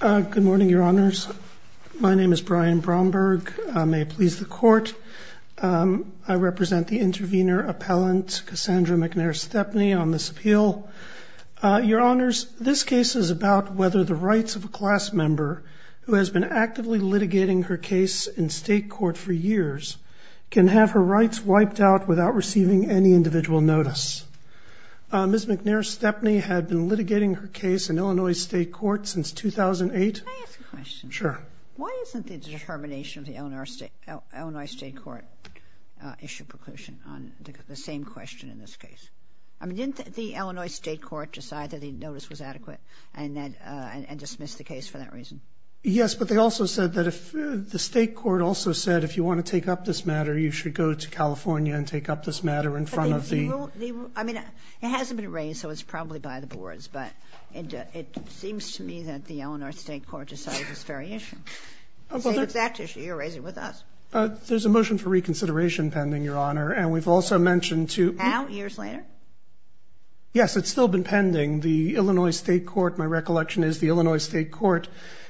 Good morning, Your Honors. My name is Brian Bromberg. I may please the Court. I represent the intervener appellant, Cassandra McNair-Stepney, on this appeal. Your Honors, this case is about whether the rights of a class member who has been actively litigating her case in state court for years can have her rights wiped out without receiving any individual notice. Ms. McNair-Stepney had been litigating her case in Illinois State Court since 2008. Can I ask a question? Sure. Why isn't the determination of the Illinois State Court issue preclusion on the same question in this case? I mean, didn't the Illinois State Court decide that a notice was adequate and dismiss the case for that reason? Yes, but they also said that if the State Court also said, if you want to take up this matter, you should go to California and take up this matter in front of the It hasn't been raised, so it's probably by the boards, but it seems to me that the Illinois State Court decided this very issue. It's the exact issue. You're raising it with us. There's a motion for reconsideration pending, Your Honor, and we've also mentioned to Now, years later? Yes, it's still been pending. The Illinois State Court, my recollection is, the Illinois State Court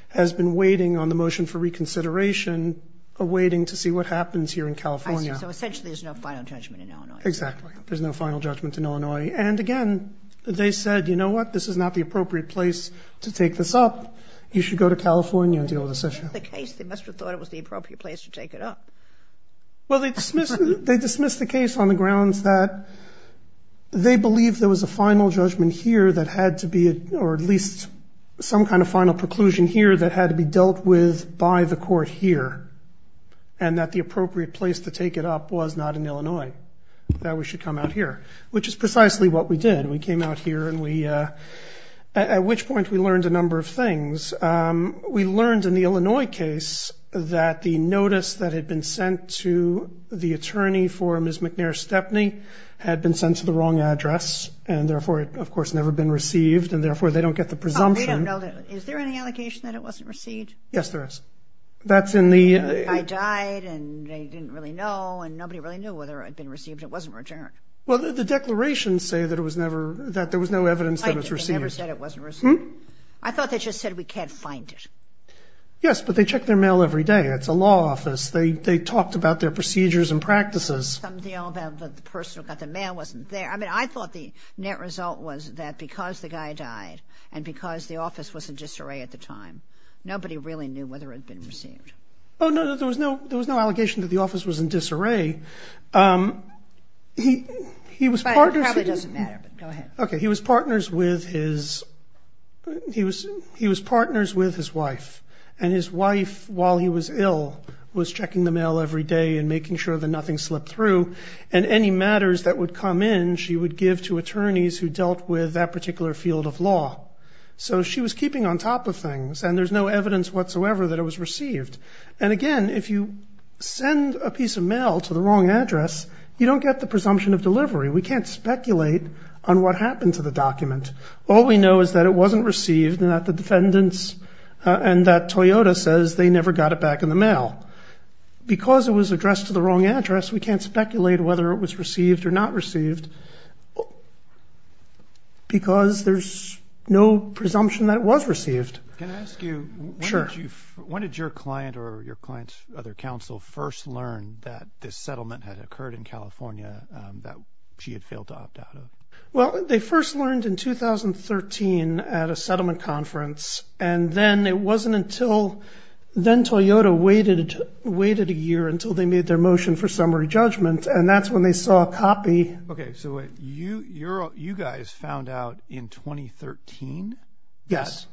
has been waiting on the motion for reconsideration, awaiting to see what happens here in California. So essentially there's no final judgment in Illinois State Court. Exactly. There's no final judgment in Illinois. And again, they said, you know what? This is not the appropriate place to take this up. You should go to California and deal with this issue. That's not the case. They must have thought it was the appropriate place to take it up. Well, they dismissed the case on the grounds that they believed there was a final judgment here that had to be, or at least some kind of final preclusion here that had to be dealt with by the court here and that the appropriate place to take it up was not in Illinois, that we should come out here, which is precisely what we did. We came out here and we, at which point we learned a number of things. We learned in the Illinois case that the notice that had been sent to the attorney for Ms. McNair Stepney had been sent to the wrong address, and therefore it, of course, never been received, and therefore they don't get the presumption. Is there any allegation that it wasn't received? Yes, there is. I died and they didn't really know, and nobody really knew whether it had been received. It wasn't returned. Well, the declarations say that it was never, that there was no evidence that it was received. They never said it wasn't received. I thought they just said we can't find it. Yes, but they check their mail every day. It's a law office. They talked about their procedures and practices. Something about the person who got the mail wasn't there. I mean, I thought the net result was that because the guy died and because the office was in disarray at the time, nobody really knew whether it had been received. Oh, no, there was no allegation that the office was in disarray. But it probably doesn't matter, but go ahead. Okay, he was partners with his wife, and his wife, while he was ill, was checking the mail every day and making sure that nothing slipped through, and any matters that would come in she would give to attorneys who dealt with that particular field of law. So she was keeping on top of things, and there's no evidence whatsoever that it was received. And again, if you send a piece of mail to the wrong address, you don't get the presumption of delivery. We can't speculate on what happened to the document. All we know is that it wasn't received and that the defendants and that Toyota says they never got it back in the mail. Because it was addressed to the wrong address, we can't speculate whether it was received or not received because there's no presumption that it was received. Can I ask you, when did your client or your client's other counsel first learn that this settlement had occurred in California that she had failed to opt out of? Well, they first learned in 2013 at a settlement conference, and then it wasn't until then Toyota waited a year until they made their motion for summary judgment, and that's when they saw a copy. Okay, so you guys found out in 2013? Yes.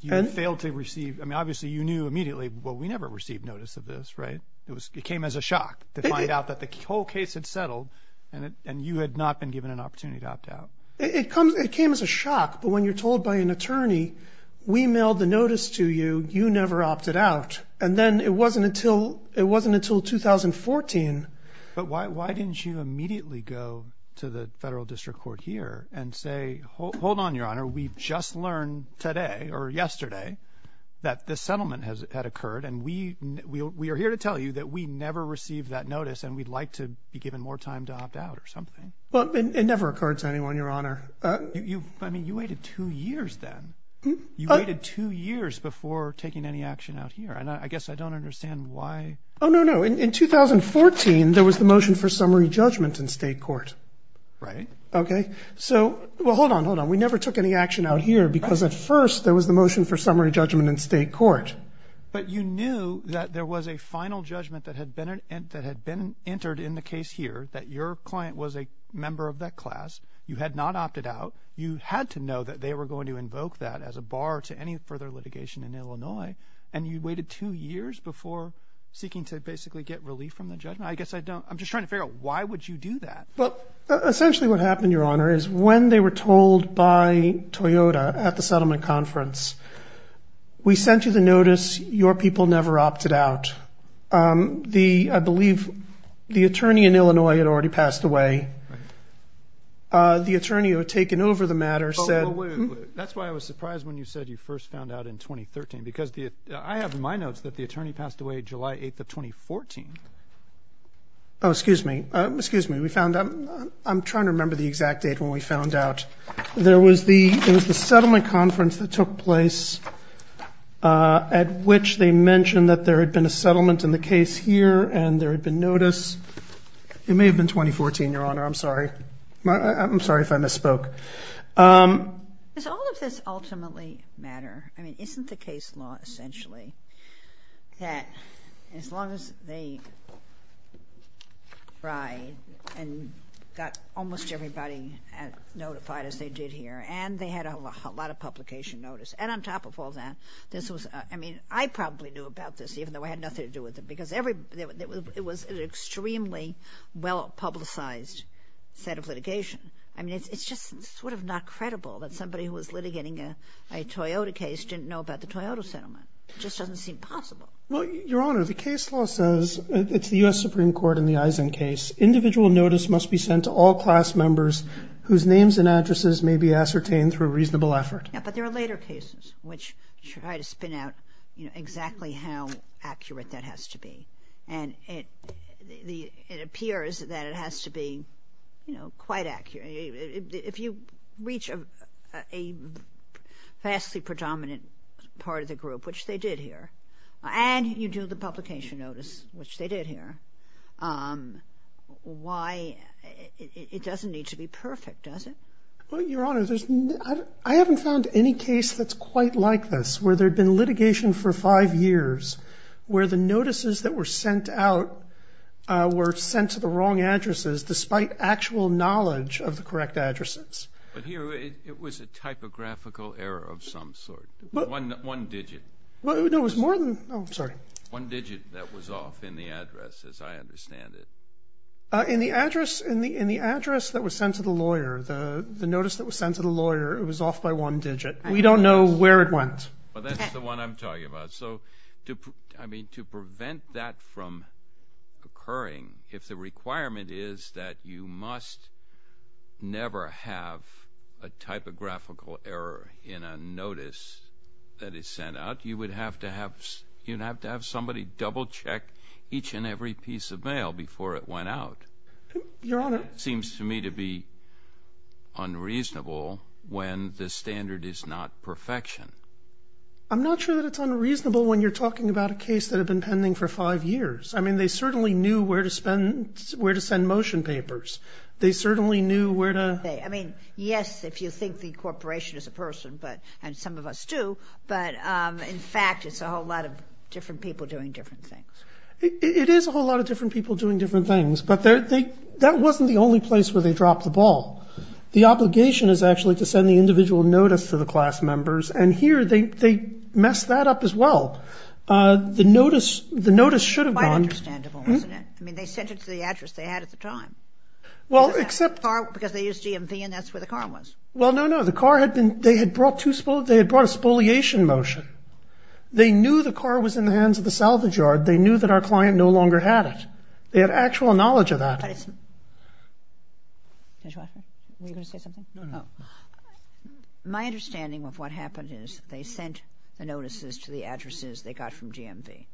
You had failed to receive. I mean, obviously you knew immediately, well, we never received notice of this, right? It came as a shock to find out that the whole case had settled and you had not been given an opportunity to opt out. It came as a shock, but when you're told by an attorney, we mailed the notice to you, you never opted out. And then it wasn't until 2014. But why didn't you immediately go to the federal district court here and say, hold on, Your Honor, we've just learned today or yesterday that this settlement had occurred, and we are here to tell you that we never received that notice and we'd like to be given more time to opt out or something. Well, it never occurred to anyone, Your Honor. I mean, you waited two years then. You waited two years before taking any action out here, and I guess I don't understand why. Oh, no, no. In 2014, there was the motion for summary judgment in state court. Right. Okay? So, well, hold on, hold on. We never took any action out here because at first there was the motion for summary judgment in state court. But you knew that there was a final judgment that had been entered in the case here, that your client was a member of that class. You had not opted out. You had to know that they were going to invoke that as a bar to any further litigation in Illinois, and you waited two years before seeking to basically get relief from the judgment? I guess I don't. I'm just trying to figure out why would you do that. Well, essentially what happened, Your Honor, is when they were told by Toyota at the settlement conference, we sent you the notice, your people never opted out. I believe the attorney in Illinois had already passed away. Right. The attorney who had taken over the matter said... Oh, wait, wait, wait. That's why I was surprised when you said you first found out in 2013 because I have in my notes that the attorney passed away July 8th of 2014. Oh, excuse me. Excuse me. We found out. I'm trying to remember the exact date when we found out. There was the settlement conference that took place at which they mentioned that there had been a settlement in the case here and there had been notice. It may have been 2014, Your Honor. I'm sorry. I'm sorry if I misspoke. Does all of this ultimately matter? I mean, isn't the case law essentially that as long as they tried and got almost everybody notified as they did here and they had a lot of publication notice, and on top of all that this was, I mean, I probably knew about this even though I had nothing to do with it because it was an extremely well-publicized set of litigation. I mean, it's just sort of not credible that somebody who was litigating a Toyota case didn't know about the Toyota settlement. It just doesn't seem possible. Well, Your Honor, the case law says, it's the U.S. Supreme Court and the Eisen case, individual notice must be sent to all class members whose names and addresses may be ascertained through reasonable effort. Yeah, but there are later cases which try to spin out exactly how accurate that has to be, and it appears that it has to be quite accurate. If you reach a vastly predominant part of the group, which they did here, and you do the publication notice, which they did here, why, it doesn't need to be perfect, does it? Well, Your Honor, I haven't found any case that's quite like this where there had been litigation for five years where the notices that were sent out were sent to the wrong addresses despite actual knowledge of the correct addresses. But here, it was a typographical error of some sort, one digit. No, it was more than, oh, sorry. One digit that was off in the address, as I understand it. In the address that was sent to the lawyer, the notice that was sent to the lawyer, it was off by one digit. We don't know where it went. But that's the one I'm talking about. So, I mean, to prevent that from occurring, if the requirement is that you must never have a typographical error in a notice that is sent out, you would have to have somebody double-check each and every piece of mail before it went out. It seems to me to be unreasonable when the standard is not perfection. I'm not sure that it's unreasonable when you're talking about a case that had been pending for five years. I mean, they certainly knew where to send motion papers. They certainly knew where to... I mean, yes, if you think the corporation is a person, and some of us do, but, in fact, it's a whole lot of different people doing different things. It is a whole lot of different people doing different things, but that wasn't the only place where they dropped the ball. The obligation is actually to send the individual notice to the class members, and here they messed that up as well. The notice should have gone... Quite understandable, isn't it? I mean, they sent it to the address they had at the time. Well, except... Because they used DMV, and that's where the car was. Well, no, no. The car had been... They had brought a spoliation motion. They knew the car was in the hands of the salvage yard. They knew that our client no longer had it. They had actual knowledge of that. My understanding of what happened is that they sent the notices to the addresses they got from DMV.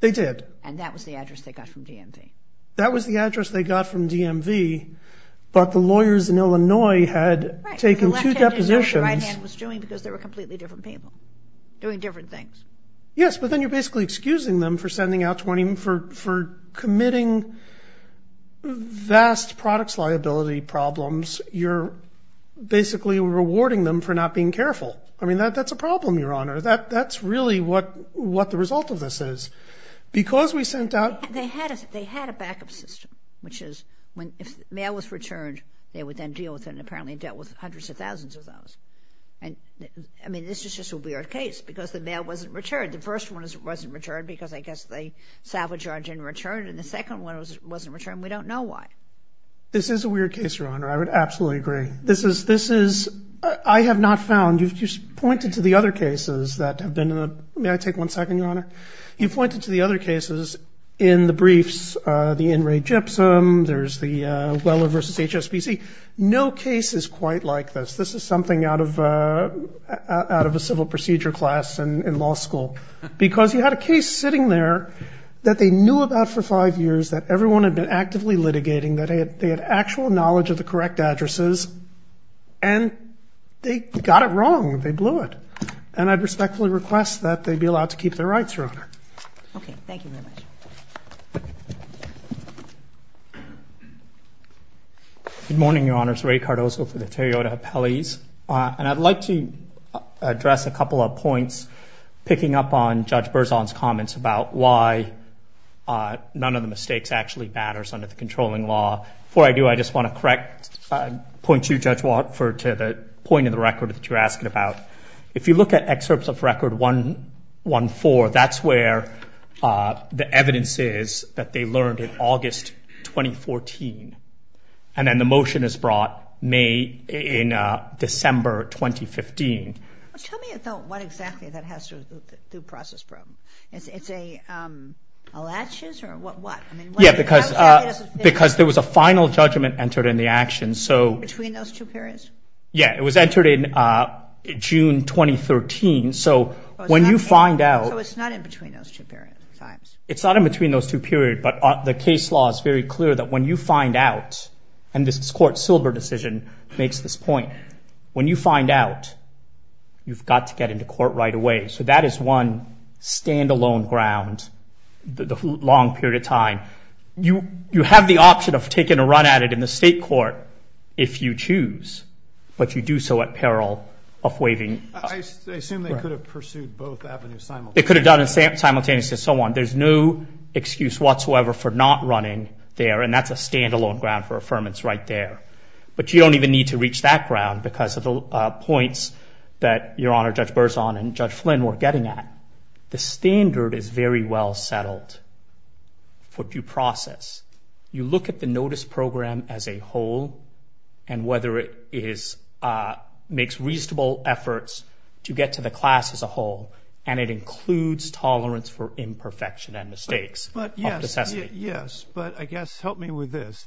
They did. And that was the address they got from DMV. That was the address they got from DMV, but the lawyers in Illinois had taken two depositions... Right. The left hand didn't know what the right hand was doing because they were completely different people doing different things. Yes, but then you're basically excusing them for sending out 20... for committing vast products liability problems. You're basically rewarding them for not being careful. I mean, that's a problem, Your Honor. That's really what the result of this is. Because we sent out... They had a backup system, which is if mail was returned, they would then deal with it, and apparently dealt with hundreds of thousands of those. I mean, this is just a weird case because the mail wasn't returned. The first one wasn't returned because I guess the salvage yard didn't return, and the second one wasn't returned. We don't know why. This is a weird case, Your Honor. I would absolutely agree. This is... I have not found... You've just pointed to the other cases that have been in the... May I take one second, Your Honor? You've pointed to the other cases in the briefs, the in-rate gypsum. There's the Weller v. HSBC. No case is quite like this. This is something out of a civil procedure class in law school because you had a case sitting there that they knew about for five years, that everyone had been actively litigating, that they had actual knowledge of the correct addresses, and they got it wrong. They blew it. And I'd respectfully request that they be allowed to keep their rights, Your Honor. Okay. Thank you very much. Good morning, Your Honors. Ray Cardozo for the Toyota Appellees. And I'd like to address a couple of points, picking up on Judge Berzon's comments about why none of the mistakes actually matters under the controlling law. Before I do, I just want to correct, point you, Judge Watford, to the point of the record that you're asking about. If you look at excerpts of Record 114, that's where the evidence is that they learned in August 2014. And then the motion is brought in December 2015. Tell me what exactly that has to do with the due process problem. It's a latches or what? Yeah, because there was a final judgment entered in the action. Between those two periods? Yeah, it was entered in June 2013. So when you find out. So it's not in between those two periods. It's not in between those two periods, but the case law is very clear that when you find out, and this is Court Silber's decision, makes this point. When you find out, you've got to get into court right away. So that is one stand-alone ground the long period of time. You have the option of taking a run at it in the state court if you choose, but you do so at peril of waiving. I assume they could have pursued both avenues simultaneously. They could have done it simultaneously and so on. There's no excuse whatsoever for not running there, and that's a stand-alone ground for affirmance right there. But you don't even need to reach that ground because of the points that Your Honor Judge Berzon and Judge Flynn were getting at. The standard is very well settled for due process. You look at the notice program as a whole and whether it makes reasonable efforts to get to the class as a whole, and it includes tolerance for imperfection and mistakes of necessity. Yes, but I guess help me with this.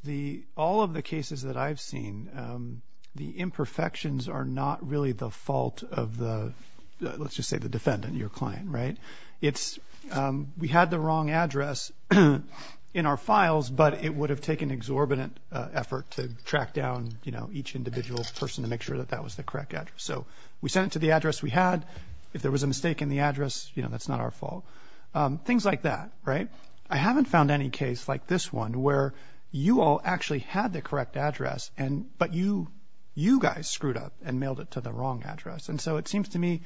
All of the cases that I've seen, the imperfections are not really the fault of the, let's just say the defendant, your client, right? We had the wrong address in our files, but it would have taken exorbitant effort to track down each individual person to make sure that that was the correct address. So we sent it to the address we had. If there was a mistake in the address, that's not our fault. Things like that, right? I haven't found any case like this one where you all actually had the correct address but you guys screwed up and mailed it to the wrong address. And so it seems to me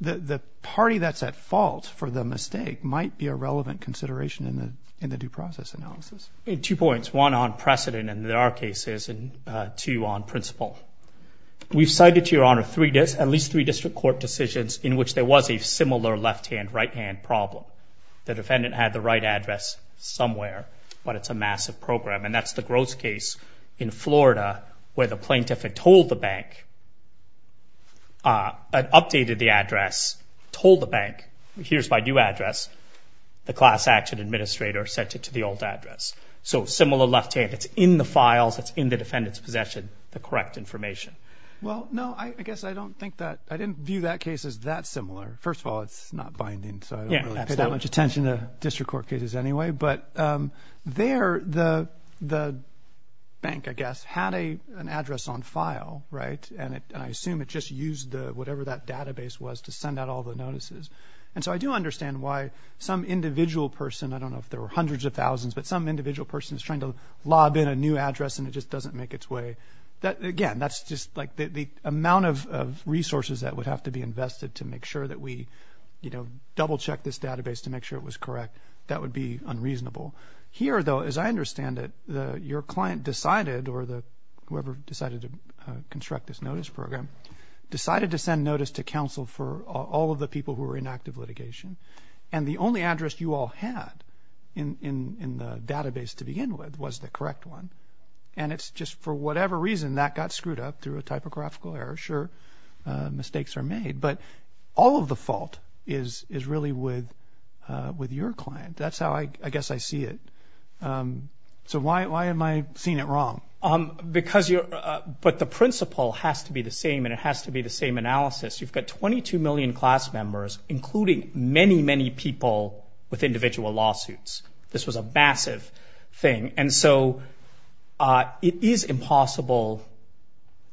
the party that's at fault for the mistake might be a relevant consideration in the due process analysis. Two points, one on precedent in our cases and two on principle. We've cited, Your Honor, at least three district court decisions in which there was a similar left-hand, right-hand problem. The defendant had the right address somewhere, but it's a massive program. And that's the Gross case in Florida where the plaintiff had told the bank, updated the address, told the bank, here's my new address. The class action administrator sent it to the old address. So similar left-hand. It's in the files. It's in the defendant's possession, the correct information. Well, no, I guess I don't think that. I didn't view that case as that similar. First of all, it's not binding, so I don't really pay that much attention to district court cases anyway. But there the bank, I guess, had an address on file, right? And I assume it just used whatever that database was to send out all the notices. And so I do understand why some individual person, I don't know if there were hundreds of thousands, but some individual person is trying to lob in a new address and it just doesn't make its way. Again, that's just like the amount of resources that would have to be invested to make sure that we double-check this database to make sure it was correct. That would be unreasonable. Here, though, as I understand it, your client decided, or whoever decided to construct this notice program, decided to send notice to counsel for all of the people who were in active litigation. And the only address you all had in the database to begin with was the correct one. And it's just for whatever reason that got screwed up through a typographical error. I'm not sure mistakes are made. But all of the fault is really with your client. That's how I guess I see it. So why am I seeing it wrong? Because you're – but the principle has to be the same and it has to be the same analysis. You've got 22 million class members, including many, many people with individual lawsuits. This was a massive thing. And so it is impossible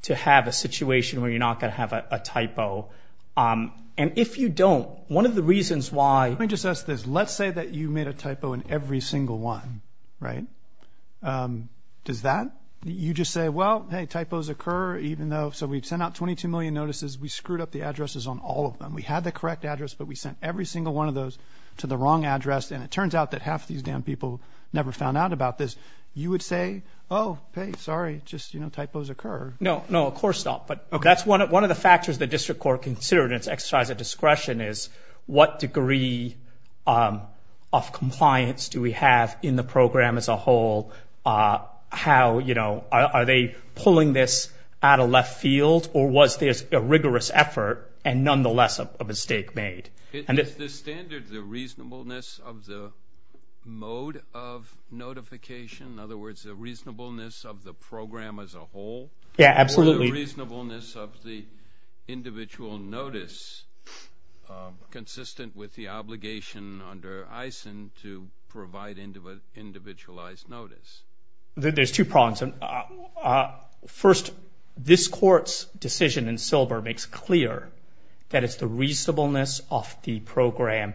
to have a situation where you're not going to have a typo. And if you don't, one of the reasons why – Let me just ask this. Let's say that you made a typo in every single one, right? Does that – you just say, well, hey, typos occur even though – so we've sent out 22 million notices. We screwed up the addresses on all of them. We had the correct address, but we sent every single one of those to the wrong address. And it turns out that half of these damn people never found out about this. You would say, oh, hey, sorry, just, you know, typos occur. No, no, of course not. But that's one of the factors the district court considered in its exercise of discretion is what degree of compliance do we have in the program as a whole? How, you know, are they pulling this out of left field or was this a rigorous effort and nonetheless a mistake made? Is the standard the reasonableness of the mode of notification? In other words, the reasonableness of the program as a whole? Yeah, absolutely. Or the reasonableness of the individual notice consistent with the obligation under EISEN to provide individualized notice? There's two problems. First, this court's decision in Silber makes clear that it's the reasonableness of the program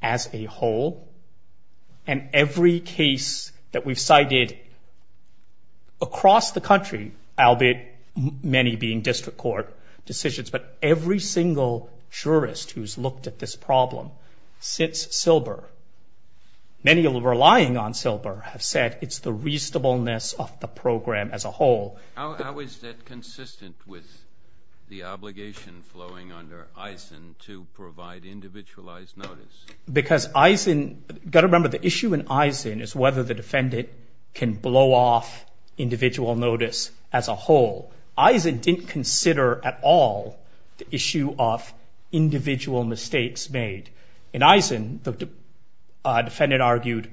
as a whole. And every case that we've cited across the country, albeit many being district court decisions, but every single jurist who's looked at this problem since Silber, many relying on Silber have said it's the reasonableness of the program as a whole. How is that consistent with the obligation flowing under EISEN to provide individualized notice? Because EISEN, you've got to remember the issue in EISEN is whether the defendant can blow off individual notice as a whole. EISEN didn't consider at all the issue of individual mistakes made. In EISEN, the defendant argued,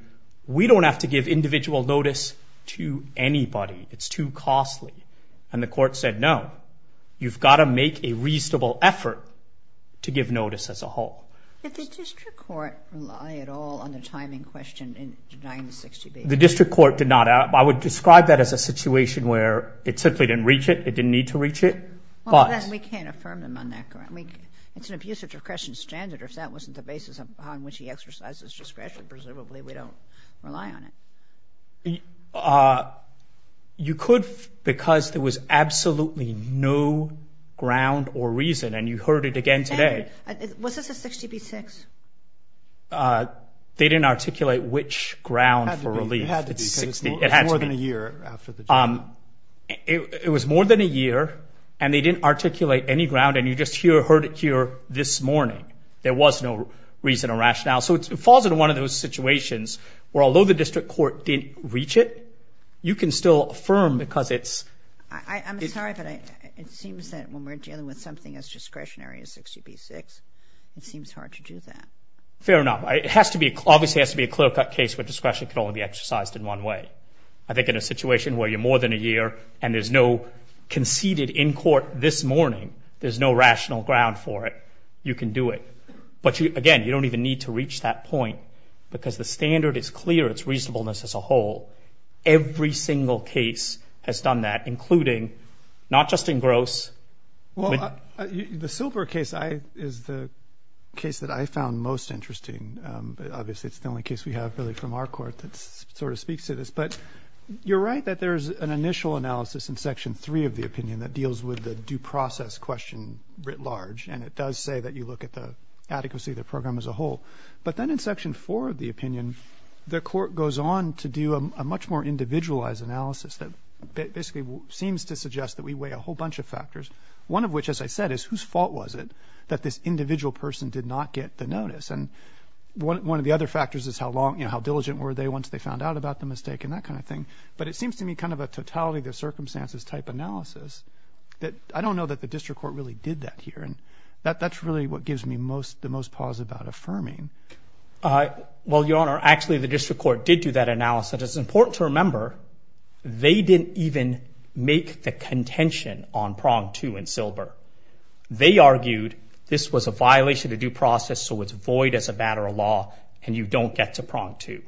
we don't have to give individual notice to anybody. It's too costly. And the court said, no, you've got to make a reasonable effort to give notice as a whole. Did the district court rely at all on the timing question in denying the 60B? The district court did not. I would describe that as a situation where it simply didn't reach it. It didn't need to reach it. We can't affirm them on that ground. It's an abuse of discretion standard. If that wasn't the basis on which he exercised his discretion, presumably we don't rely on it. You could because there was absolutely no ground or reason, and you heard it again today. Was this a 60B-6? They didn't articulate which ground for relief. It had to be because it's more than a year after the trial. It was more than a year, and they didn't articulate any ground. And you just heard it here this morning. There was no reason or rationale. So it falls into one of those situations where, although the district court didn't reach it, you can still affirm because it's— I'm sorry, but it seems that when we're dealing with something as discretionary as 60B-6, it seems hard to do that. Fair enough. It obviously has to be a clear-cut case where discretion can only be exercised in one way. I think in a situation where you're more than a year and there's no conceded in court this morning, there's no rational ground for it, you can do it. But, again, you don't even need to reach that point because the standard is clear. It's reasonableness as a whole. Every single case has done that, including not just in Gross. Well, the Silver case is the case that I found most interesting. Obviously, it's the only case we have really from our court that sort of speaks to this. But you're right that there's an initial analysis in Section 3 of the opinion that deals with the due process question writ large, and it does say that you look at the adequacy of the program as a whole. But then in Section 4 of the opinion, the court goes on to do a much more individualized analysis that basically seems to suggest that we weigh a whole bunch of factors, one of which, as I said, is whose fault was it that this individual person did not get the notice. And one of the other factors is how long, you know, how diligent were they once they found out about the mistake and that kind of thing. But it seems to me kind of a totality of circumstances type analysis that I don't know that the district court really did that here. That's really what gives me the most pause about affirming. Well, Your Honor, actually the district court did do that analysis. It's important to remember they didn't even make the contention on Prong 2 in Silber. They argued this was a violation of due process, so it's void as a matter of law and you don't get to Prong 2.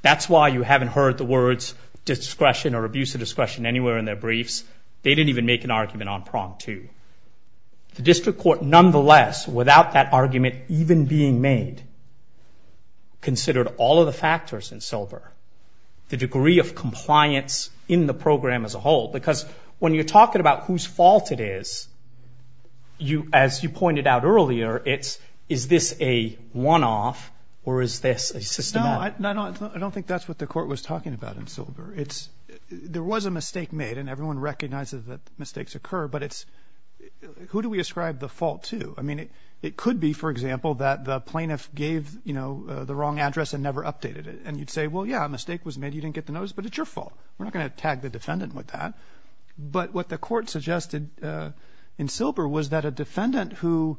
That's why you haven't heard the words discretion or abuse of discretion anywhere in their briefs. They didn't even make an argument on Prong 2. The district court, nonetheless, without that argument even being made, considered all of the factors in Silber, the degree of compliance in the program as a whole. Because when you're talking about whose fault it is, as you pointed out earlier, is this a one-off or is this a systematic? No, I don't think that's what the court was talking about in Silber. There was a mistake made and everyone recognizes that mistakes occur, but who do we ascribe the fault to? I mean, it could be, for example, that the plaintiff gave the wrong address and never updated it. And you'd say, well, yeah, a mistake was made. You didn't get the notice, but it's your fault. We're not going to tag the defendant with that. But what the court suggested in Silber was that a defendant who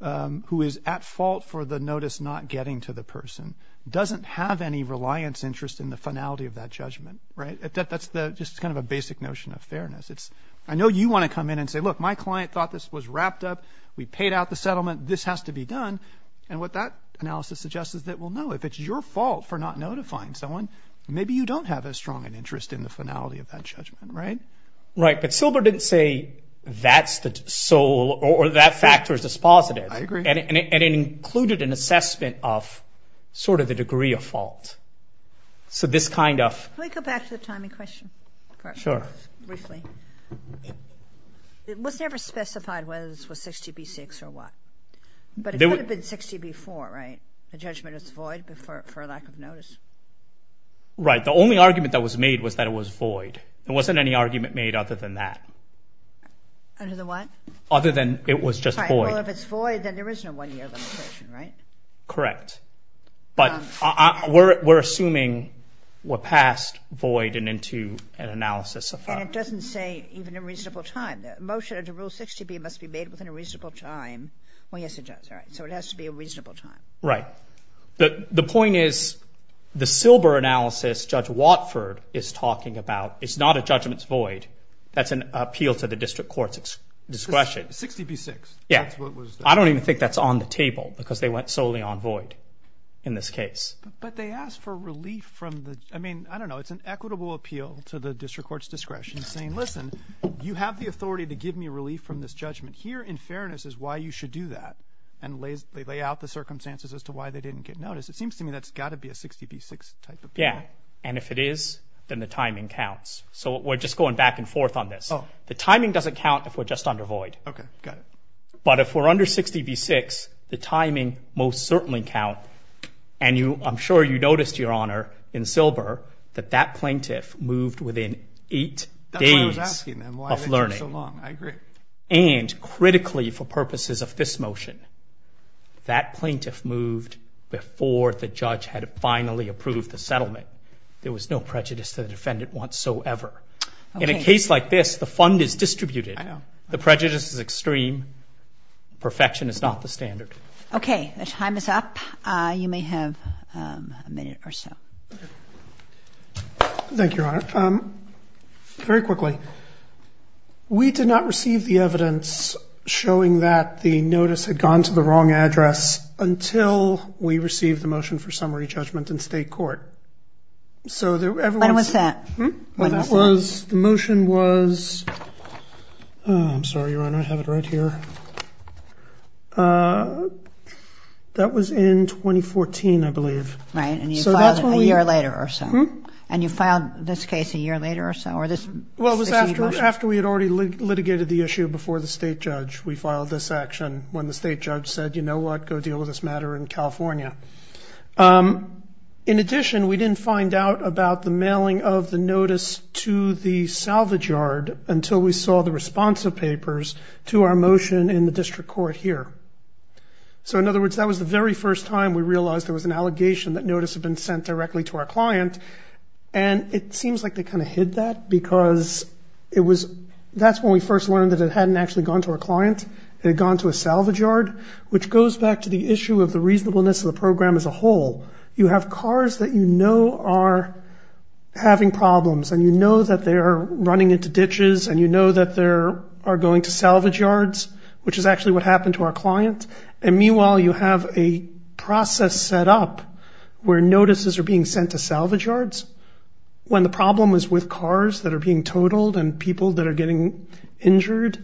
is at fault for the notice not getting to the person doesn't have any reliance interest in the finality of that judgment. That's just kind of a basic notion of fairness. I know you want to come in and say, look, my client thought this was wrapped up. We paid out the settlement. This has to be done. And what that analysis suggests is that, well, no, if it's your fault for not notifying someone, maybe you don't have a strong interest in the finality of that judgment. Right, but Silber didn't say that's the sole or that factor is dispositive. I agree. And it included an assessment of sort of the degree of fault. So this kind of – Can we go back to the timing question? Sure. Briefly. It was never specified whether this was 60B6 or what. But it could have been 60B4, right? The judgment is void for lack of notice. Right. The only argument that was made was that it was void. There wasn't any argument made other than that. Other than what? Other than it was just void. Well, if it's void, then there is no one-year limitation, right? Correct. But we're assuming we're past void and into an analysis. And it doesn't say even a reasonable time. The motion under Rule 60B must be made within a reasonable time. Well, yes, it does. All right. So it has to be a reasonable time. Right. The point is the Silber analysis Judge Watford is talking about is not a judgment's void. That's an appeal to the district court's discretion. 60B6. Yes. I don't even think that's on the table because they went solely on void in this case. But they asked for relief from the – I mean, I don't know. It's an equitable appeal to the district court's discretion saying, listen, you have the authority to give me relief from this judgment. Here, in fairness, is why you should do that. And they lay out the circumstances as to why they didn't get notice. It seems to me that's got to be a 60B6 type appeal. Yes. And if it is, then the timing counts. So we're just going back and forth on this. The timing doesn't count if we're just under void. Okay. Got it. But if we're under 60B6, the timing most certainly counts. And I'm sure you noticed, Your Honor, in Silber, that that plaintiff moved within eight days of learning. I agree. And critically for purposes of this motion, that plaintiff moved before the judge had finally approved the settlement. There was no prejudice to the defendant whatsoever. Okay. In a case like this, the fund is distributed. I know. The prejudice is extreme. Perfection is not the standard. Okay. The time is up. You may have a minute or so. Thank you, Your Honor. Very quickly, we did not receive the evidence showing that the notice had gone to the wrong address until we received the motion for summary judgment in state court. When was that? The motion was, I'm sorry, Your Honor, I have it right here. That was in 2014, I believe. Right. And you filed it a year later or so. And you filed this case a year later or so? Well, it was after we had already litigated the issue before the state judge, we filed this action when the state judge said, you know what, go deal with this matter in California. In addition, we didn't find out about the mailing of the notice to the salvage yard until we saw the response of papers to our motion in the district court here. So, in other words, that was the very first time we realized there was an allegation that notice had been sent directly to our client, and it seems like they kind of hid that because that's when we first learned that it hadn't actually gone to our client. It had gone to a salvage yard, which goes back to the issue of the reasonableness of the program as a whole. You have cars that you know are having problems, and you know that they are running into ditches, and you know that they are going to salvage yards, which is actually what happened to our client, and meanwhile you have a process set up where notices are being sent to salvage yards when the problem is with cars that are being totaled and people that are getting injured.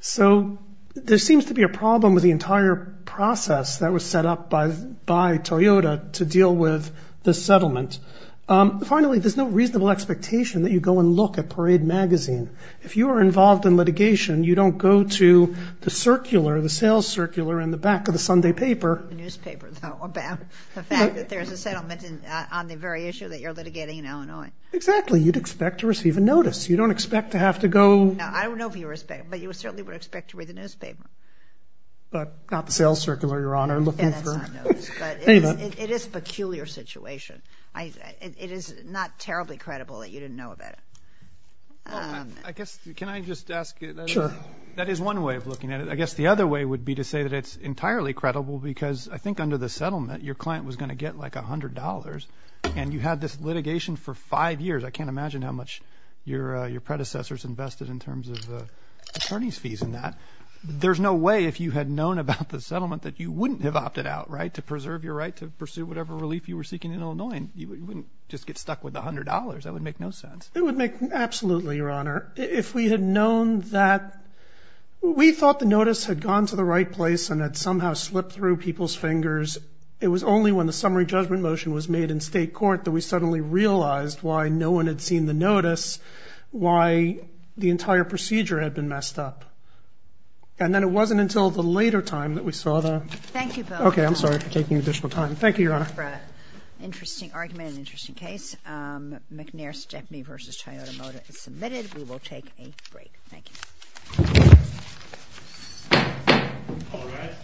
So there seems to be a problem with the entire process that was set up by Toyota to deal with the settlement. Finally, there's no reasonable expectation that you go and look at Parade Magazine. If you are involved in litigation, you don't go to the sales circular in the back of the Sunday paper. The newspaper, though, about the fact that there's a settlement on the very issue that you're litigating in Illinois. Exactly. You'd expect to receive a notice. You don't expect to have to go. I don't know if you expect, but you certainly would expect to read the newspaper. But not the sales circular, Your Honor. It is a peculiar situation. It is not terribly credible that you didn't know about it. I guess, can I just ask? Sure. That is one way of looking at it. I guess the other way would be to say that it's entirely credible because I think under the settlement, your client was going to get like $100, and you had this litigation for five years. I can't imagine how much your predecessors invested in terms of attorney's fees in that. There's no way if you had known about the settlement that you wouldn't have opted out, right, to preserve your right to pursue whatever relief you were seeking in Illinois. You wouldn't just get stuck with $100. That would make no sense. It would make absolutely, Your Honor. If we had known that we thought the notice had gone to the right place and had somehow slipped through people's fingers, it was only when the summary judgment motion was made in state court that we suddenly realized why no one had seen the notice, why the entire procedure had been messed up. And then it wasn't until the later time that we saw the... Thank you, Bill. Okay. I'm sorry for taking additional time. Thank you, Your Honor. Interesting argument and interesting case. McNair-Stepney v. Toyota Motor is submitted. We will take a break. Thank you. All rise.